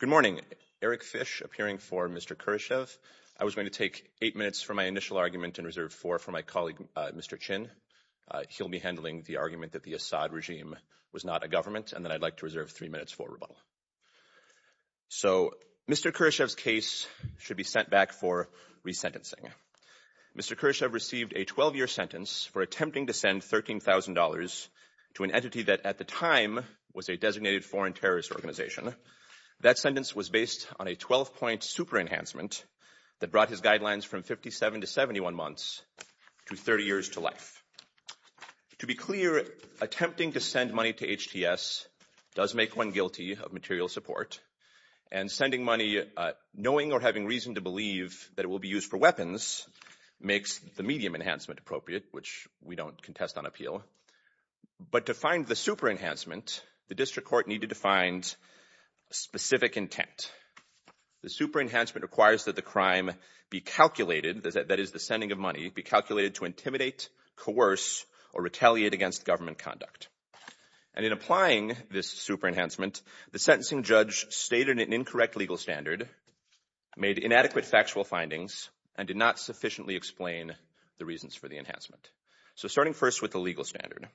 Good morning. Eric Fish, appearing for Mr. Kurashev. I was going to take eight minutes for my initial argument and reserve four for my colleague, Mr. Chin. He'll be handling the argument that the Assad regime was not a government, and then I'd like to reserve three minutes for rebuttal. So, Mr. Kurashev's case should be sent back for resentencing. Mr. Kurashev received a 12-year sentence for attempting to send $13,000 to an entity that, at the time, was a designated foreign terrorist organization. That sentence was based on a 12-point super enhancement that brought his guidelines from 57 to 71 months to 30 years to life. To be clear, attempting to send money to HTS does make one guilty of material support, and sending money knowing or having reason to believe that it will be used for weapons makes the medium enhancement appropriate, which we don't contest on appeal. But to find the super enhancement, the district court needed to find specific intent. The super enhancement requires that the crime be calculated, that is, the sending of money, be calculated to intimidate, coerce, or retaliate against government conduct. And in applying this super enhancement, the sentencing judge stated an incorrect legal standard, made inadequate factual findings, and did not sufficiently explain the reasons for the enhancement. So starting first with the legal standard,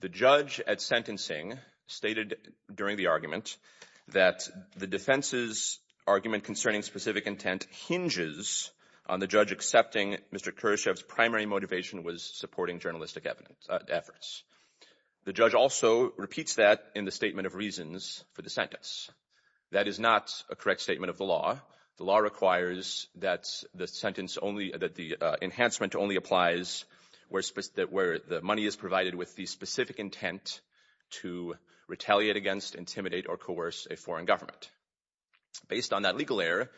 the judge at sentencing stated during the argument that the defense's argument concerning specific intent hinges on the judge accepting Mr. Kurashev's primary motivation was supporting journalistic efforts. The judge also repeats that in the statement of reasons for the sentence. That is not a correct statement of the law. The law requires that the enhancement only applies where the money is provided with the specific intent to retaliate against, intimidate, or coerce a foreign government. Based on that legal error,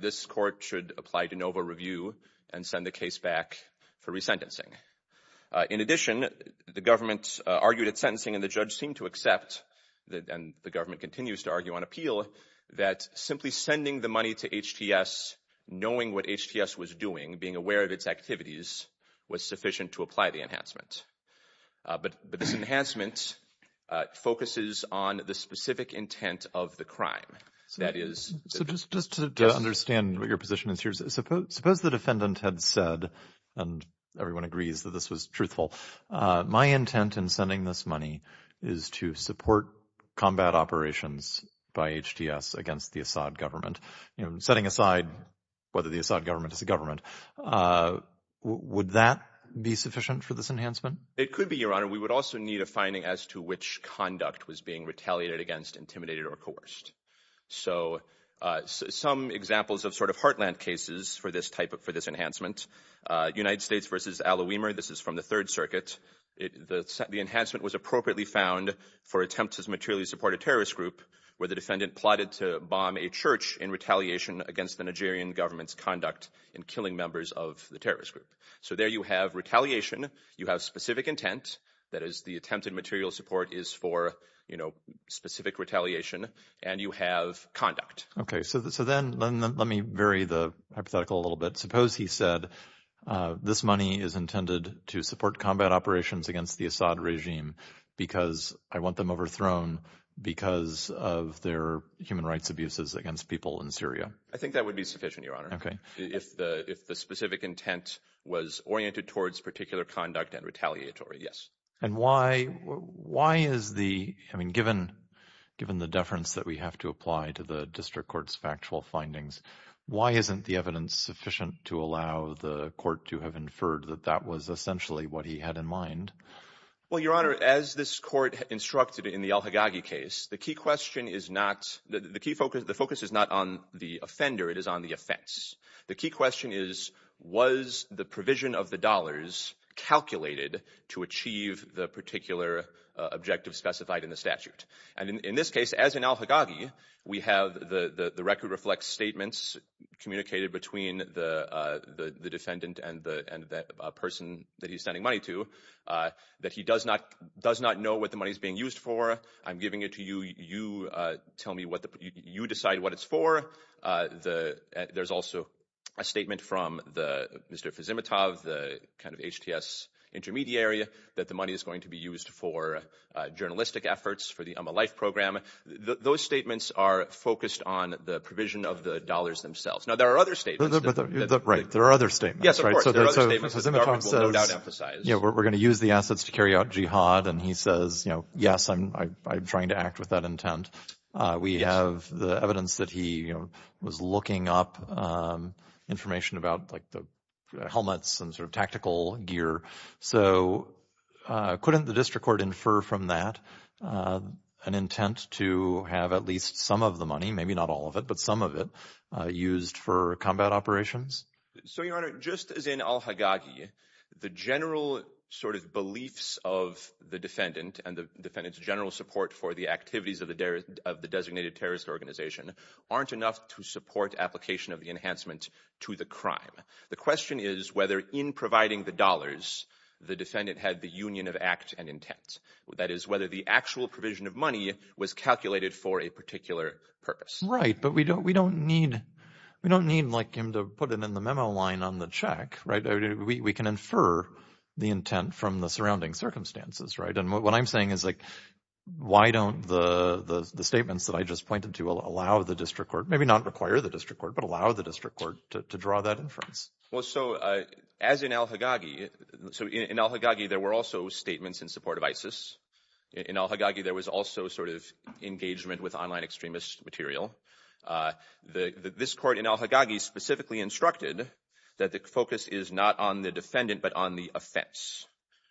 this court should apply de novo review and send the case back for resentencing. In addition, the government argued at sentencing, and the judge seemed to accept, and the government continues to argue on appeal, that simply sending the money to HTS, knowing what HTS was doing, being aware of its activities, was sufficient to apply the enhancement. But this enhancement focuses on the specific intent of the crime. So just to understand what your position is here, suppose the defendant had said, and everyone agrees that this was truthful, my intent in sending this money is to support combat operations by HTS against the Assad government. Setting aside whether the Assad government is a government, would that be sufficient for this enhancement? It could be, Your Honor. We would also need a finding as to which conduct was being retaliated against, intimidated, or coerced. So some examples of sort of heartland cases for this type of enhancement. United States v. Al Owemer, this is from the Third Circuit. The enhancement was appropriately found for attempts to materially support a terrorist group where the defendant plotted to bomb a church in retaliation against the Nigerian government's conduct in killing members of the terrorist group. So there you have retaliation. You have specific intent. That is, the attempted material support is for specific retaliation. And you have conduct. Okay, so then let me vary the hypothetical a little bit. Suppose he said, this money is intended to support combat operations against the Assad regime because I want them overthrown because of their human rights abuses against people in Syria. I think that would be sufficient, Your Honor. Okay. If the specific intent was oriented towards particular conduct and retaliatory, yes. And why is the, I mean, given the deference that we have to apply to the district court's factual findings, why isn't the evidence sufficient to allow the court to have inferred that that was essentially what he had in mind? Well, Your Honor, as this court instructed in the al-Haggagi case, the key question is not, the focus is not on the offender, it is on the offense. The key question is, was the provision of the dollars calculated to achieve the particular objective specified in the statute? And in this case, as in al-Haggagi, we have the record reflect statements communicated between the defendant and the person that he's sending money to that he does not know what the money is being used for. I'm giving it to you. You tell me what the, you decide what it's for. There's also a statement from Mr. Fezimatov, the kind of HTS intermediary, that the money is going to be used for journalistic efforts, for the Umm al-Aif program. Those statements are focused on the provision of the dollars themselves. Now, there are other statements. Right. There are other statements. Yes, of course. There are other statements that the government will no doubt emphasize. Yeah, we're going to use the assets to carry out jihad. And he says, you know, yes, I'm trying to act with that intent. We have the evidence that he was looking up information about, like, the helmets and sort of tactical gear. So couldn't the district court infer from that an intent to have at least some of the money, maybe not all of it, but some of it, used for combat operations? So, Your Honor, just as in al-Haggagi, the general sort of beliefs of the defendant and the defendant's general support for the activities of the designated terrorist organization aren't enough to support application of the enhancement to the crime. The question is whether, in providing the dollars, the defendant had the union of act and intent. That is, whether the actual provision of money was calculated for a particular purpose. Right, but we don't need him to put it in the memo line on the check. We can infer the intent from the surrounding circumstances. Right, and what I'm saying is, like, why don't the statements that I just pointed to allow the district court, maybe not require the district court, but allow the district court to draw that inference? Well, so as in al-Haggagi, so in al-Haggagi, there were also statements in support of ISIS. In al-Haggagi, there was also sort of engagement with online extremist material. This court in al-Haggagi specifically instructed that the focus is not on the defendant but on the offense.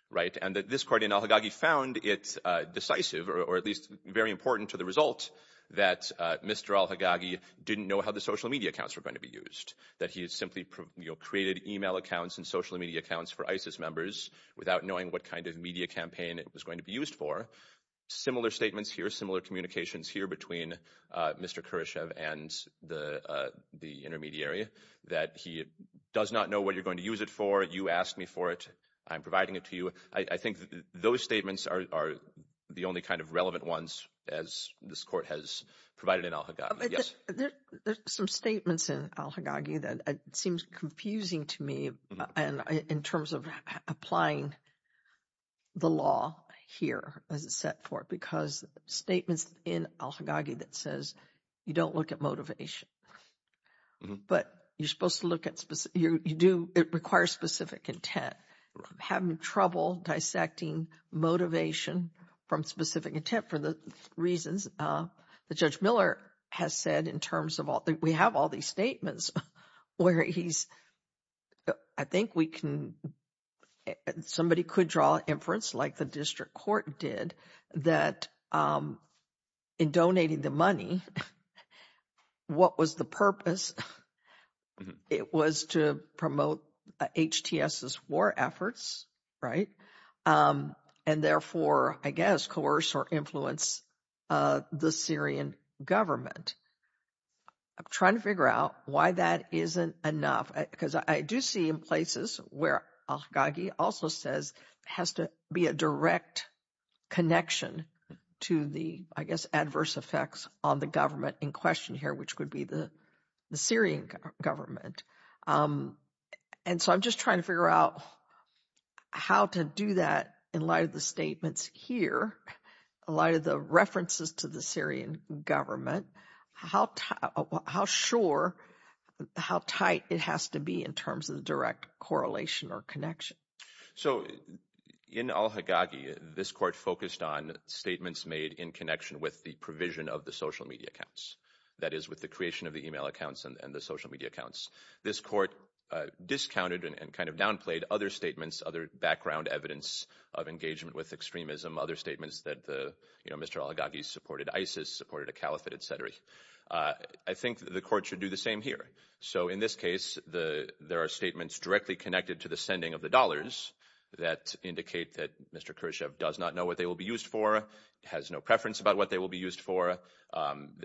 Right, and this court in al-Haggagi found it decisive, or at least very important to the result, that Mr. al-Haggagi didn't know how the social media accounts were going to be used, that he had simply created e-mail accounts and social media accounts for ISIS members without knowing what kind of media campaign it was going to be used for. Similar statements here, similar communications here between Mr. Kuryshev and the intermediary, that he does not know what you're going to use it for. You asked me for it. I'm providing it to you. I think those statements are the only kind of relevant ones as this court has provided in al-Haggagi. There's some statements in al-Haggagi that seems confusing to me in terms of applying the law here as it's set for, because statements in al-Haggagi that says you don't look at motivation, but you're supposed to look at specific, you do, it requires specific intent. Having trouble dissecting motivation from specific intent for the reasons that Judge Miller has said in terms of, we have all these statements where he's, I think we can, somebody could draw inference like the district court did, that in donating the money, what was the purpose? It was to promote HTS's war efforts, right? And therefore, I guess, coerce or influence the Syrian government. I'm trying to figure out why that isn't enough, because I do see in places where al-Haggagi also says it has to be a direct connection to the, I guess, adverse effects on the government in question here, which would be the Syrian government. And so I'm just trying to figure out how to do that in light of the statements here, a lot of the references to the Syrian government, how sure, how tight it has to be in terms of the direct correlation or connection. So in al-Haggagi, this court focused on statements made in connection with the provision of the social media accounts, that is with the creation of the email accounts and the social media accounts. This court discounted and kind of downplayed other statements, other background evidence of engagement with extremism, other statements that Mr. al-Haggagi supported ISIS, supported a caliphate, et cetera. I think the court should do the same here. So in this case, there are statements directly connected to the sending of the dollars that indicate that Mr. Khrushchev does not know what they will be used for, has no preference about what they will be used for.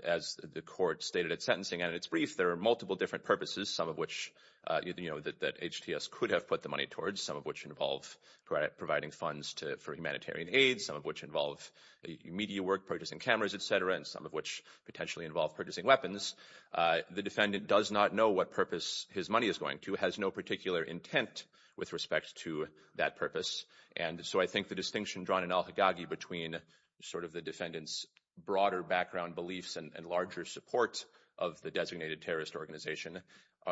As the court stated at sentencing, and it's brief, there are multiple different purposes, some of which that HTS could have put the money towards, some of which involve providing funds for humanitarian aid, some of which involve media work, purchasing cameras, et cetera, and some of which potentially involve purchasing weapons. The defendant does not know what purpose his money is going to, has no particular intent with respect to that purpose. And so I think the distinction drawn in al-Haggagi between sort of the defendant's broader background beliefs and larger support of the designated terrorist organization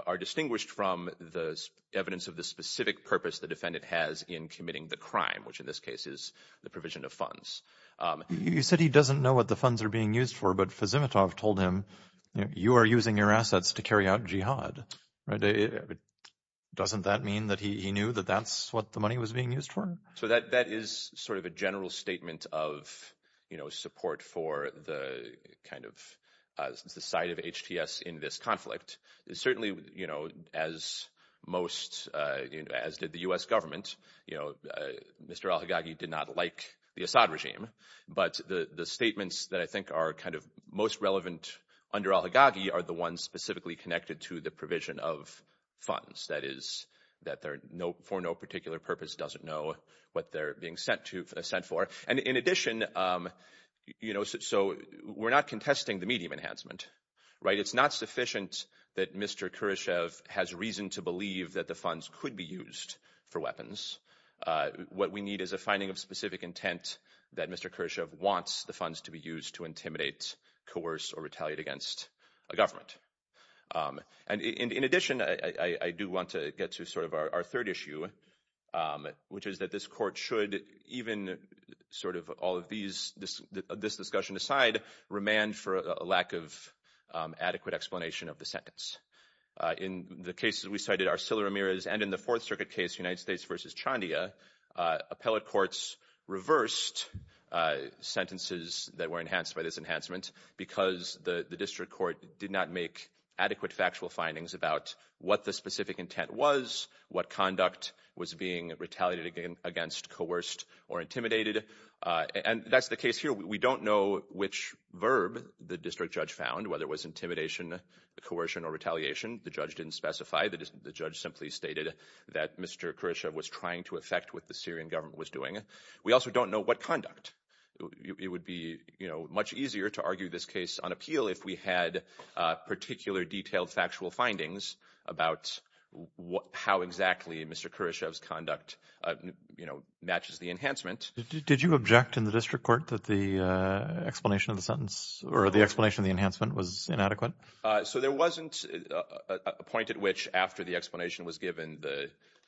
are distinguished from the evidence of the specific purpose the defendant has in committing the crime, which in this case is the provision of funds. You said he doesn't know what the funds are being used for, but Fezimatov told him, you are using your assets to carry out jihad. Doesn't that mean that he knew that that's what the money was being used for? So that is sort of a general statement of, you know, support for the kind of side of HTS in this conflict. Certainly, you know, as most, as did the U.S. government, you know, Mr. al-Haggagi did not like the Assad regime, but the statements that I think are kind of most relevant under al-Haggagi are the ones specifically connected to the provision of funds. That is that for no particular purpose doesn't know what they're being sent for. And in addition, you know, so we're not contesting the medium enhancement, right? It's not sufficient that Mr. Khrushchev has reason to believe that the funds could be used for weapons. What we need is a finding of specific intent that Mr. Khrushchev wants the funds to be used to intimidate, coerce, or retaliate against a government. And in addition, I do want to get to sort of our third issue, which is that this court should even sort of all of these, this discussion aside, remand for a lack of adequate explanation of the sentence. In the cases we cited, Arsila Ramirez, and in the Fourth Circuit case, United States v. Chandia, appellate courts reversed sentences that were enhanced by this enhancement because the district court did not make adequate factual findings about what the specific intent was, what conduct was being retaliated against, coerced, or intimidated. And that's the case here. We don't know which verb the district judge found, whether it was intimidation, coercion, or retaliation. The judge didn't specify. The judge simply stated that Mr. Khrushchev was trying to affect what the Syrian government was doing. We also don't know what conduct. It would be, you know, much easier to argue this case on appeal if we had particular detailed factual findings about how exactly Mr. Khrushchev's conduct, you know, matches the enhancement. Did you object in the district court that the explanation of the sentence or the explanation of the enhancement was inadequate? So there wasn't a point at which after the explanation was given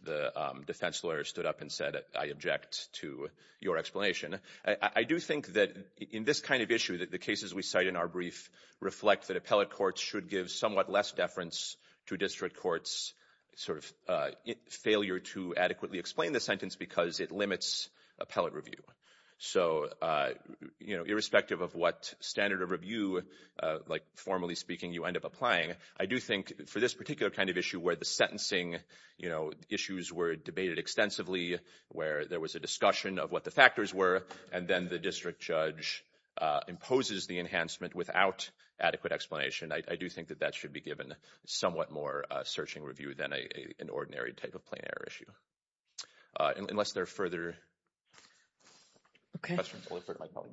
the defense lawyer stood up and said, I object to your explanation. I do think that in this kind of issue that the cases we cite in our brief reflect that appellate courts should give somewhat less deference to district courts' sort of failure to adequately explain the sentence because it limits appellate review. So, you know, irrespective of what standard of review, like formally speaking, you end up applying, I do think for this particular kind of issue where the sentencing, you know, issues were debated extensively, where there was a discussion of what the factors were, and then the district judge imposes the enhancement without adequate explanation, I do think that that should be given somewhat more searching review than an ordinary type of plain error issue. Unless there are further questions, I'll defer to my colleague.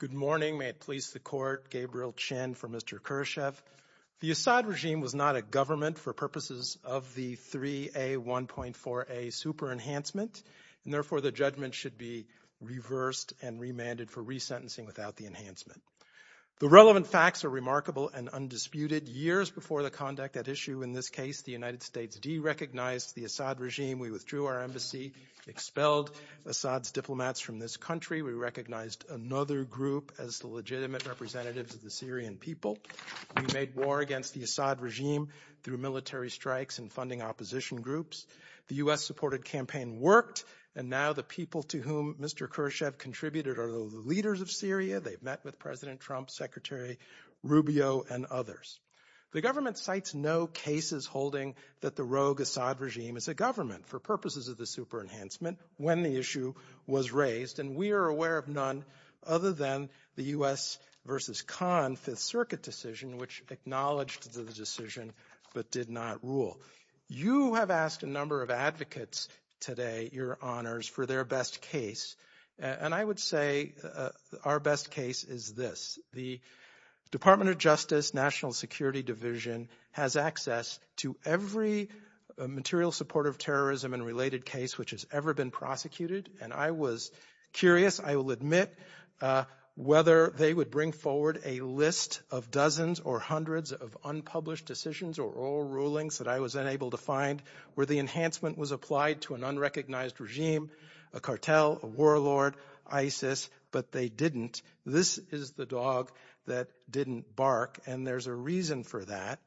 Good morning. May it please the Court. Gabriel Chin for Mr. Khrushchev. The Assad regime was not a government for purposes of the 3A, 1.4A super enhancement, and therefore the judgment should be reversed and remanded for resentencing without the enhancement. The relevant facts are remarkable and undisputed. Years before the conduct at issue in this case, the United States derecognized the Assad regime. We withdrew our embassy, expelled Assad's diplomats from this country. We recognized another group as the legitimate representatives of the Syrian people. We made war against the Assad regime through military strikes and funding opposition groups. The U.S.-supported campaign worked, and now the people to whom Mr. Khrushchev contributed are the leaders of Syria. They've met with President Trump, Secretary Rubio, and others. The government cites no cases holding that the rogue Assad regime is a government for purposes of the super enhancement when the issue was raised, and we are aware of none other than the U.S. v. Khan Fifth Circuit decision, which acknowledged the decision but did not rule. You have asked a number of advocates today, Your Honors, for their best case, and I would say our best case is this. The Department of Justice National Security Division has access to every material support of terrorism and related case which has ever been prosecuted, and I was curious, I will admit, whether they would bring forward a list of dozens or hundreds of unpublished decisions or oral rulings that I was unable to find where the enhancement was applied to an unrecognized regime, a cartel, a warlord, ISIS, but they didn't. This is the dog that didn't bark, and there's a reason for that,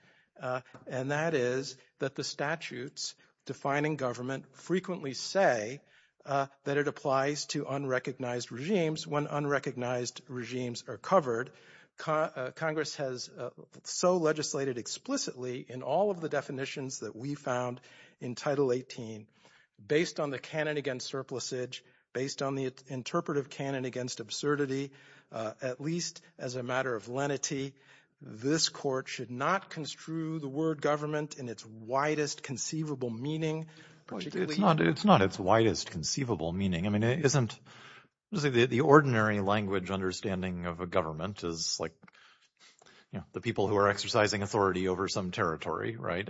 and that is that the statutes defining government frequently say that it applies to unrecognized regimes. When unrecognized regimes are covered, Congress has so legislated explicitly in all of the definitions that we found in Title 18 based on the canon against surplusage, based on the interpretive canon against absurdity, at least as a matter of lenity, this court should not construe the word government in its widest conceivable meaning. It's not its widest conceivable meaning. I mean, the ordinary language understanding of a government is like the people who are exercising authority over some territory, right?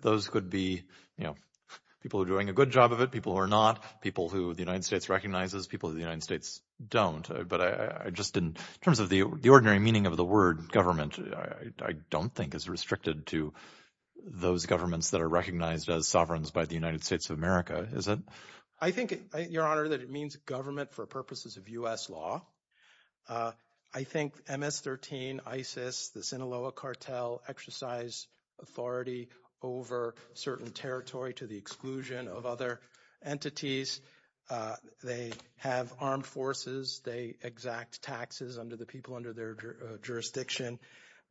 Those could be people who are doing a good job of it, people who are not, people who the United States recognizes, people who the United States don't, but in terms of the ordinary meaning of the word government, I don't think it's restricted to those governments that are recognized as sovereigns by the United States of America, is it? I think, Your Honor, that it means government for purposes of U.S. law. I think MS-13, ISIS, the Sinaloa cartel exercise authority over certain territory to the exclusion of other entities. They have armed forces. They exact taxes under the people under their jurisdiction,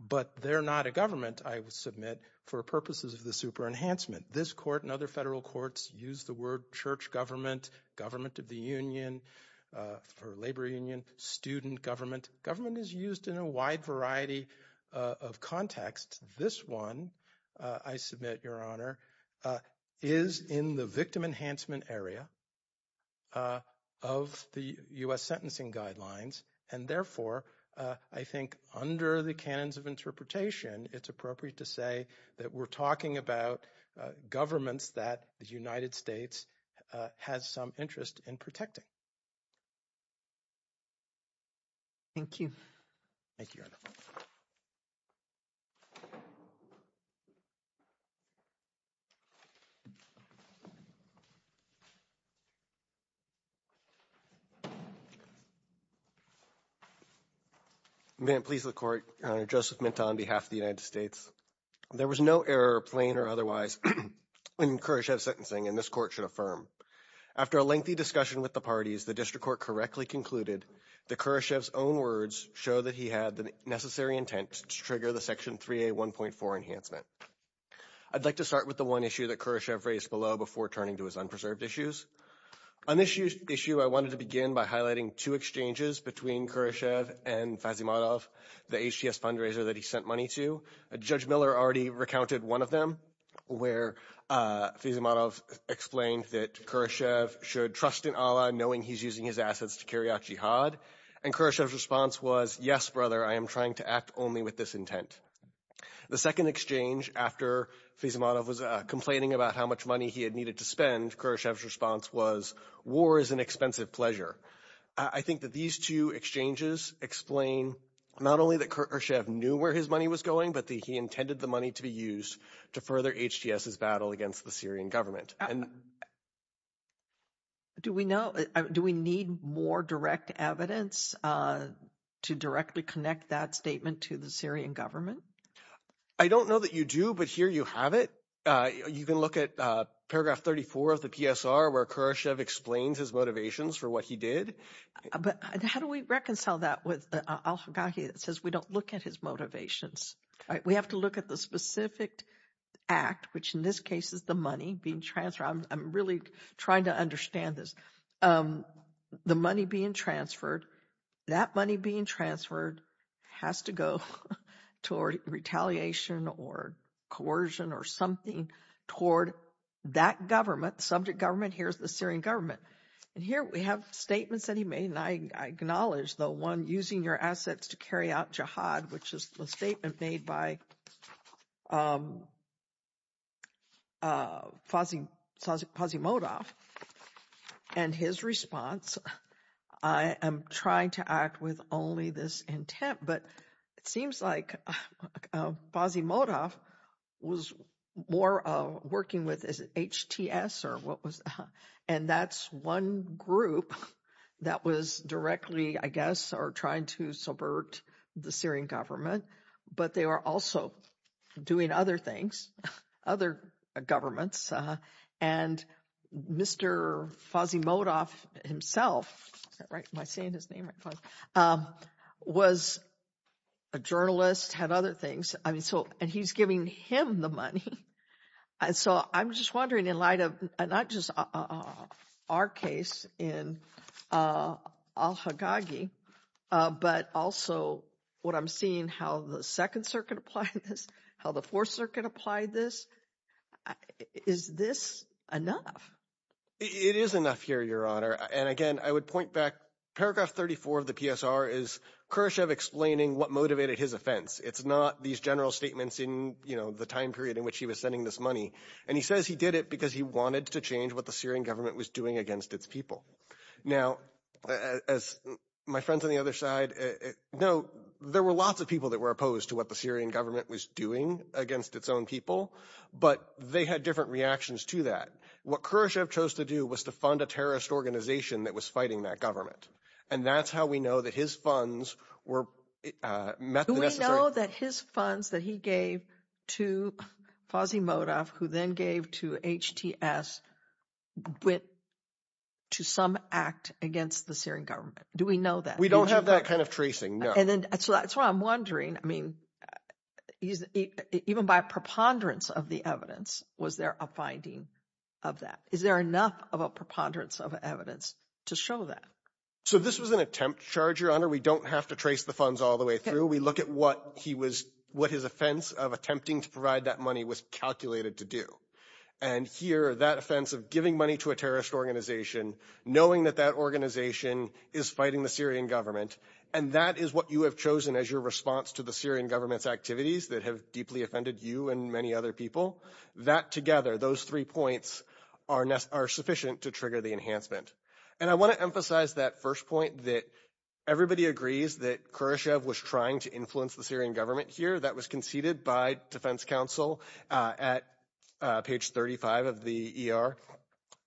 but they're not a government, I would submit, for purposes of the super-enhancement. This court and other federal courts use the word church government, government of the union or labor union, student government. Government is used in a wide variety of contexts. This one, I submit, Your Honor, is in the victim enhancement area of the U.S. sentencing guidelines, and therefore I think under the canons of interpretation it's appropriate to say that we're talking about governments that the United States has some interest in protecting. Thank you. Thank you, Your Honor. May it please the Court, Your Honor, Joseph Minto on behalf of the United States. There was no error, plain or otherwise, in Khrushchev's sentencing, and this court should affirm. After a lengthy discussion with the parties, the district court correctly concluded that Khrushchev's own words show that he had the necessary intent to trigger the Section 3A 1.4 enhancement. I'd like to start with the one issue that Khrushchev raised below before turning to his unpreserved issues. On this issue, I wanted to begin by highlighting two exchanges between Khrushchev and Fazimadov, the HTS fundraiser that he sent money to. Judge Miller already recounted one of them where Fazimadov explained that Khrushchev should trust in Allah, knowing he's using his assets to carry out jihad, and Khrushchev's response was, yes, brother, I am trying to act only with this intent. The second exchange, after Fazimadov was complaining about how much money he had needed to spend, Khrushchev's response was, war is an expensive pleasure. I think that these two exchanges explain not only that Khrushchev knew where his money was going, but that he intended the money to be used to further HTS's battle against the Syrian government. Do we know, do we need more direct evidence to directly connect that statement to the Syrian government? I don't know that you do, but here you have it. You can look at paragraph 34 of the PSR where Khrushchev explains his motivations for what he did. But how do we reconcile that with the Al-Hagakhi that says we don't look at his motivations? We have to look at the specific act, which in this case is the money being transferred. I'm really trying to understand this. The money being transferred, that money being transferred has to go toward retaliation or coercion or something toward that government, the subject government, here's the Syrian government. And here we have statements that he made, and I acknowledge the one, using your assets to carry out jihad, which is a statement made by Pazimodov. And his response, I am trying to act with only this intent, but it seems like Pazimodov was more working with HTS or what was, and that's one group that was directly, I guess, or trying to subvert the Syrian government, but they were also doing other things, other governments. And Mr. Pazimodov himself, was a journalist, had other things, and he's giving him the money. And so I'm just wondering in light of not just our case in al-Haggagi, but also what I'm seeing, how the Second Circuit applied this, how the Fourth Circuit applied this. Is this enough? It is enough here, Your Honor. And again, I would point back, paragraph 34 of the PSR is Khrushchev explaining what motivated his offense. It's not these general statements in the time period in which he was sending this money. And he says he did it because he wanted to change what the Syrian government was doing against its people. Now, as my friends on the other side know, there were lots of people that were opposed to what the Syrian government was doing against its own people, but they had different reactions to that. What Khrushchev chose to do was to fund a terrorist organization that was fighting that government, and that's how we know that his funds were met the necessary— Do we know that his funds that he gave to Fazimodov, who then gave to HTS, went to some act against the Syrian government? Do we know that? We don't have that kind of tracing, no. And so that's why I'm wondering, I mean, even by preponderance of the evidence, was there a finding of that? Is there enough of a preponderance of evidence to show that? So this was an attempt charge, Your Honor. We don't have to trace the funds all the way through. We look at what his offense of attempting to provide that money was calculated to do. And here, that offense of giving money to a terrorist organization, knowing that that organization is fighting the Syrian government, and that is what you have chosen as your response to the Syrian government's activities that have deeply offended you and many other people, that together, those three points are sufficient to trigger the enhancement. And I want to emphasize that first point that everybody agrees that Khrushchev was trying to influence the Syrian government here. That was conceded by defense counsel at page 35 of the ER,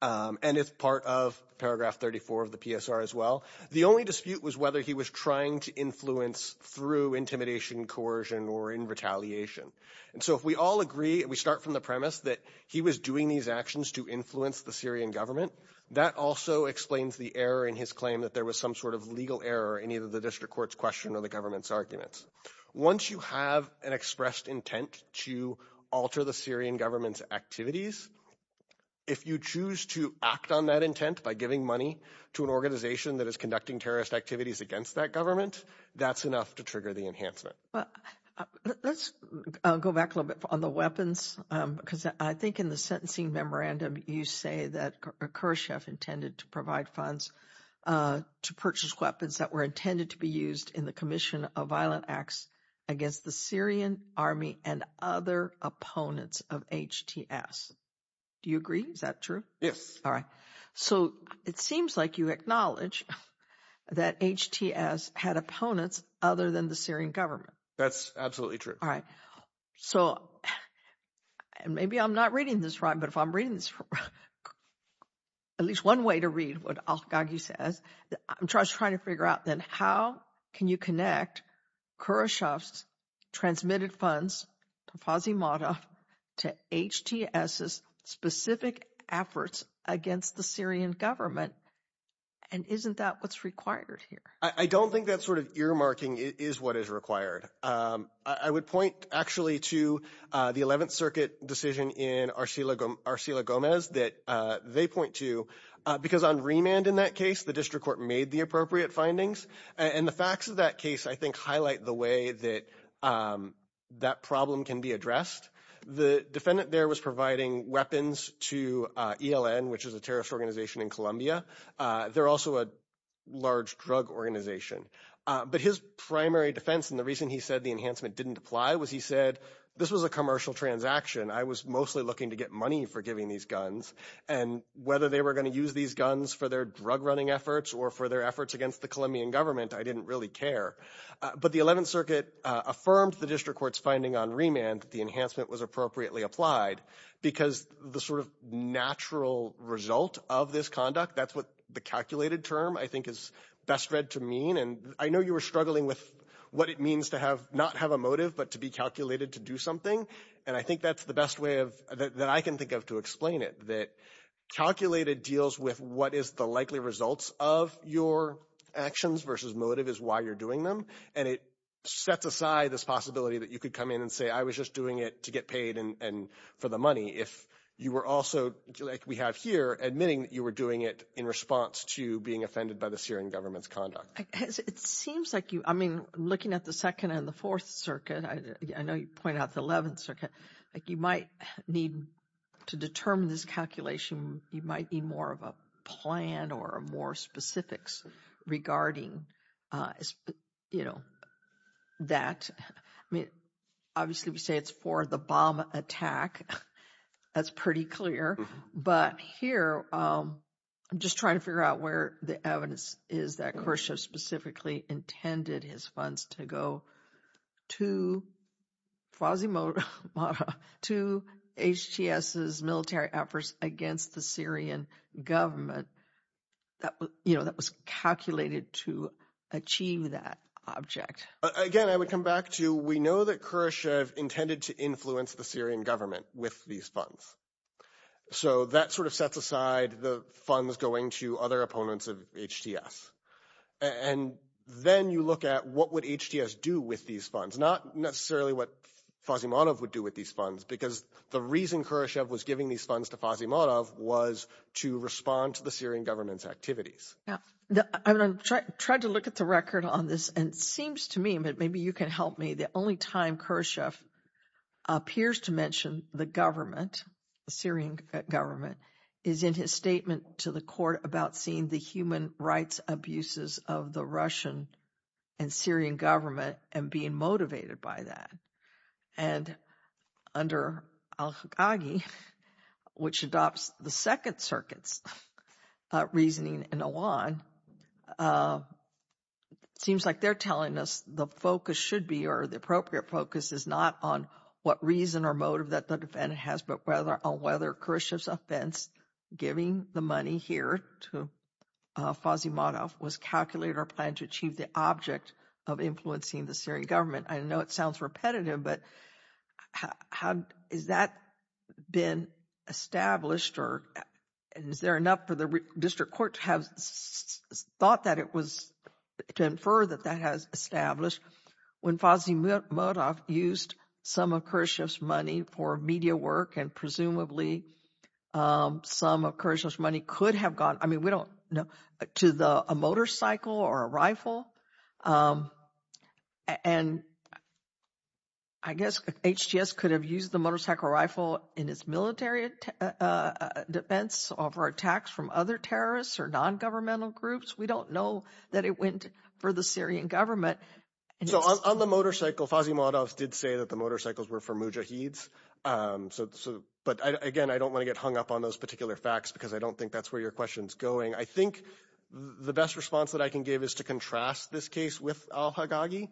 and it's part of paragraph 34 of the PSR as well. The only dispute was whether he was trying to influence through intimidation, coercion, or in retaliation. And so if we all agree and we start from the premise that he was doing these actions to influence the Syrian government, that also explains the error in his claim that there was some sort of legal error in either the district court's question or the government's arguments. Once you have an expressed intent to alter the Syrian government's activities, if you choose to act on that intent by giving money to an organization that is conducting terrorist activities against that government, that's enough to trigger the enhancement. Well, let's go back a little bit on the weapons, because I think in the sentencing memorandum, you say that Khrushchev intended to provide funds to purchase weapons that were intended to be used in the commission of violent acts against the Syrian army and other opponents of HTS. Do you agree? Is that true? Yes. All right. So it seems like you acknowledge that HTS had opponents other than the Syrian government. That's absolutely true. All right. So maybe I'm not reading this right. But if I'm reading this right, at least one way to read what Al-Ghaghi says, I'm just trying to figure out then how can you connect Khrushchev's transmitted funds, to HTS's specific efforts against the Syrian government? And isn't that what's required here? I don't think that sort of earmarking is what is required. I would point actually to the 11th Circuit decision in Arsila Gomez that they point to, because on remand in that case, the district court made the appropriate findings. And the facts of that case, I think, highlight the way that that problem can be addressed. The defendant there was providing weapons to ELN, which is a terrorist organization in Colombia. They're also a large drug organization. But his primary defense and the reason he said the enhancement didn't apply was he said, this was a commercial transaction. I was mostly looking to get money for giving these guns. And whether they were going to use these guns for their drug-running efforts or for their efforts against the Colombian government, I didn't really care. But the 11th Circuit affirmed the district court's finding on remand that the enhancement was appropriately applied, because the sort of natural result of this conduct, that's what the calculated term I think is best read to mean. And I know you were struggling with what it means to not have a motive but to be calculated to do something. And I think that's the best way that I can think of to explain it, that calculated deals with what is the likely results of your actions versus motive is why you're doing them. And it sets aside this possibility that you could come in and say, I was just doing it to get paid and for the money, if you were also, like we have here, admitting that you were doing it in response to being offended by the Syrian government's conduct. It seems like you, I mean, looking at the Second and the Fourth Circuit, I know you point out the 11th Circuit, like you might need to determine this calculation. You might need more of a plan or more specifics regarding, you know, that. I mean, obviously we say it's for the bomb attack. That's pretty clear. But here I'm just trying to figure out where the evidence is that Khrushchev specifically intended his funds to go to Fozzy Mota, to HTS's military efforts against the Syrian government. You know, that was calculated to achieve that object. Again, I would come back to we know that Khrushchev intended to influence the Syrian government with these funds. So that sort of sets aside the funds going to other opponents of HTS. And then you look at what would HTS do with these funds, not necessarily what Fozzy Mota would do with these funds, because the reason Khrushchev was giving these funds to Fozzy Mota was to respond to the Syrian government's activities. I tried to look at the record on this and seems to me, but maybe you can help me. The only time Khrushchev appears to mention the government, the Syrian government, is in his statement to the court about seeing the human rights abuses of the Russian and Syrian government and being motivated by that. And under al-Khagighi, which adopts the Second Circuit's reasoning in Iran, seems like they're telling us the focus should be or the appropriate focus is not on what reason or motive that the defendant has, but whether or whether Khrushchev's offense, giving the money here to Fozzy Mota, was calculated or planned to achieve the object of influencing the Syrian government. I know it sounds repetitive, but how has that been established? Or is there enough for the district court to have thought that it was to infer that that has established when Fozzy Mota used some of Khrushchev's money for media work and presumably some of Khrushchev's money could have gone, I mean, we don't know, to a motorcycle or a rifle? And I guess HDS could have used the motorcycle rifle in its military defense over attacks from other terrorists or non-governmental groups. We don't know that it went for the Syrian government. So on the motorcycle, Fozzy Mota did say that the motorcycles were for mujahids. But, again, I don't want to get hung up on those particular facts because I don't think that's where your question's going. I think the best response that I can give is to contrast this case with al-Haggagi,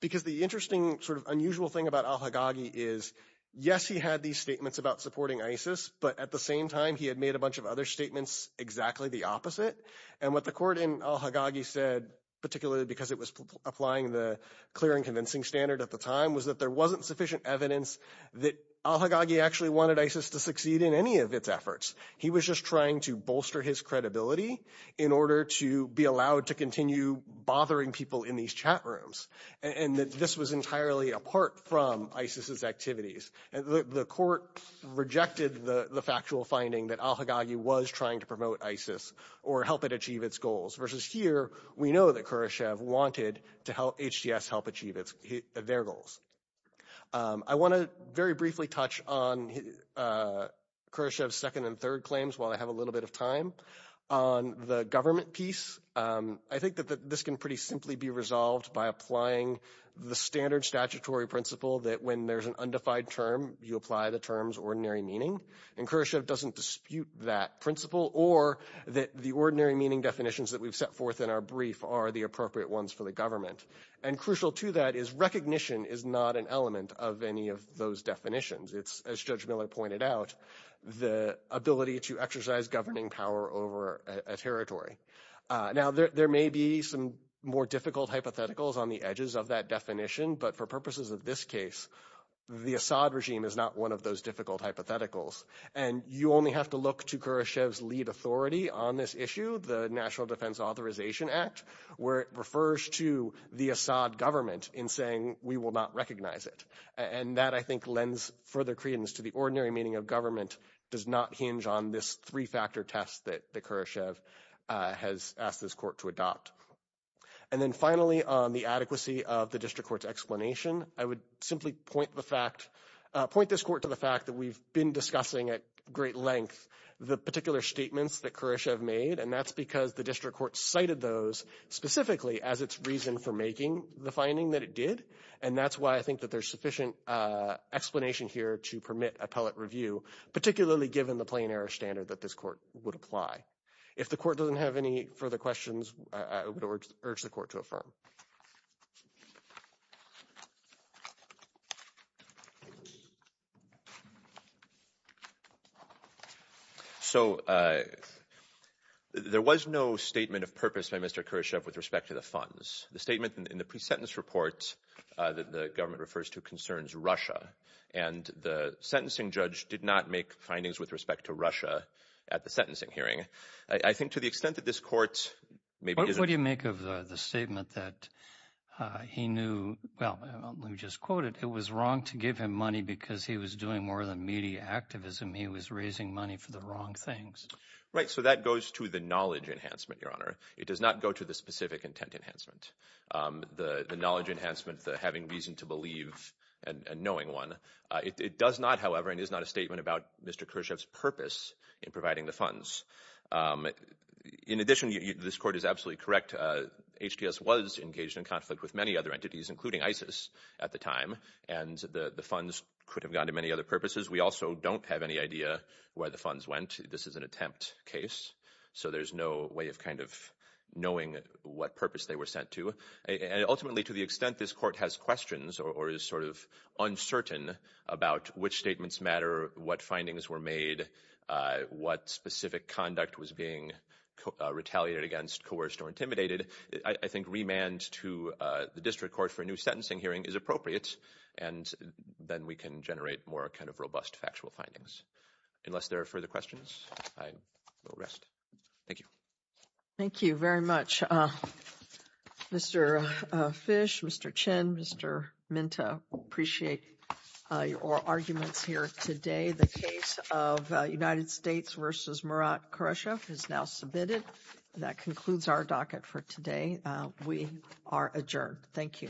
because the interesting sort of unusual thing about al-Haggagi is, yes, he had these statements about supporting ISIS, but at the same time he had made a bunch of other statements exactly the opposite. And what the court in al-Haggagi said, particularly because it was applying the clear and convincing standard at the time, was that there wasn't sufficient evidence that al-Haggagi actually wanted ISIS to succeed in any of its efforts. He was just trying to bolster his credibility in order to be allowed to continue bothering people in these chat rooms. And this was entirely apart from ISIS's activities. The court rejected the factual finding that al-Haggagi was trying to promote ISIS or help it achieve its goals, versus here, we know that Khrushchev wanted HDS to help achieve their goals. I want to very briefly touch on Khrushchev's second and third claims while I have a little bit of time. On the government piece, I think that this can pretty simply be resolved by applying the standard statutory principle that when there's an undefined term, you apply the term's ordinary meaning. And Khrushchev doesn't dispute that principle or that the ordinary meaning definitions that we've set forth in our brief are the appropriate ones for the government. And crucial to that is recognition is not an element of any of those definitions. It's, as Judge Miller pointed out, the ability to exercise governing power over a territory. Now, there may be some more difficult hypotheticals on the edges of that definition, but for purposes of this case, the Assad regime is not one of those difficult hypotheticals. And you only have to look to Khrushchev's lead authority on this issue, the National Defense Authorization Act, where it refers to the Assad government in saying we will not recognize it. And that, I think, lends further credence to the ordinary meaning of government does not hinge on this three-factor test that Khrushchev has asked this court to adopt. And then finally, on the adequacy of the district court's explanation, I would simply point this court to the fact that we've been discussing at great length the particular statements that Khrushchev made, and that's because the district court cited those specifically as its reason for making the finding that it did. And that's why I think that there's sufficient explanation here to permit appellate review, particularly given the plain error standard that this court would apply. If the court doesn't have any further questions, I would urge the court to affirm. So there was no statement of purpose by Mr. Khrushchev with respect to the funds. The statement in the pre-sentence report that the government refers to concerns Russia, and the sentencing judge did not make findings with respect to Russia at the sentencing hearing. I think to the extent that this court maybe isn't – What do you make of the statement that he knew – well, let me just quote it. It was wrong to give him money because he was doing more than media activism. He was raising money for the wrong things. Right, so that goes to the knowledge enhancement, Your Honor. It does not go to the specific intent enhancement. The knowledge enhancement, the having reason to believe and knowing one. It does not, however, and is not a statement about Mr. Khrushchev's purpose in providing the funds. In addition, this court is absolutely correct. HDS was engaged in conflict with many other entities, including ISIS at the time, and the funds could have gone to many other purposes. We also don't have any idea where the funds went. This is an attempt case. So there's no way of kind of knowing what purpose they were sent to. Ultimately, to the extent this court has questions or is sort of uncertain about which statements matter, what findings were made, what specific conduct was being retaliated against, coerced or intimidated, I think remand to the district court for a new sentencing hearing is appropriate, and then we can generate more kind of robust factual findings. Unless there are further questions, I will rest. Thank you. Thank you very much. Mr. Fish, Mr. Chin, Mr. Minta, I appreciate your arguments here today. The case of United States v. Murat Khrushchev is now submitted. That concludes our docket for today. We are adjourned. Thank you.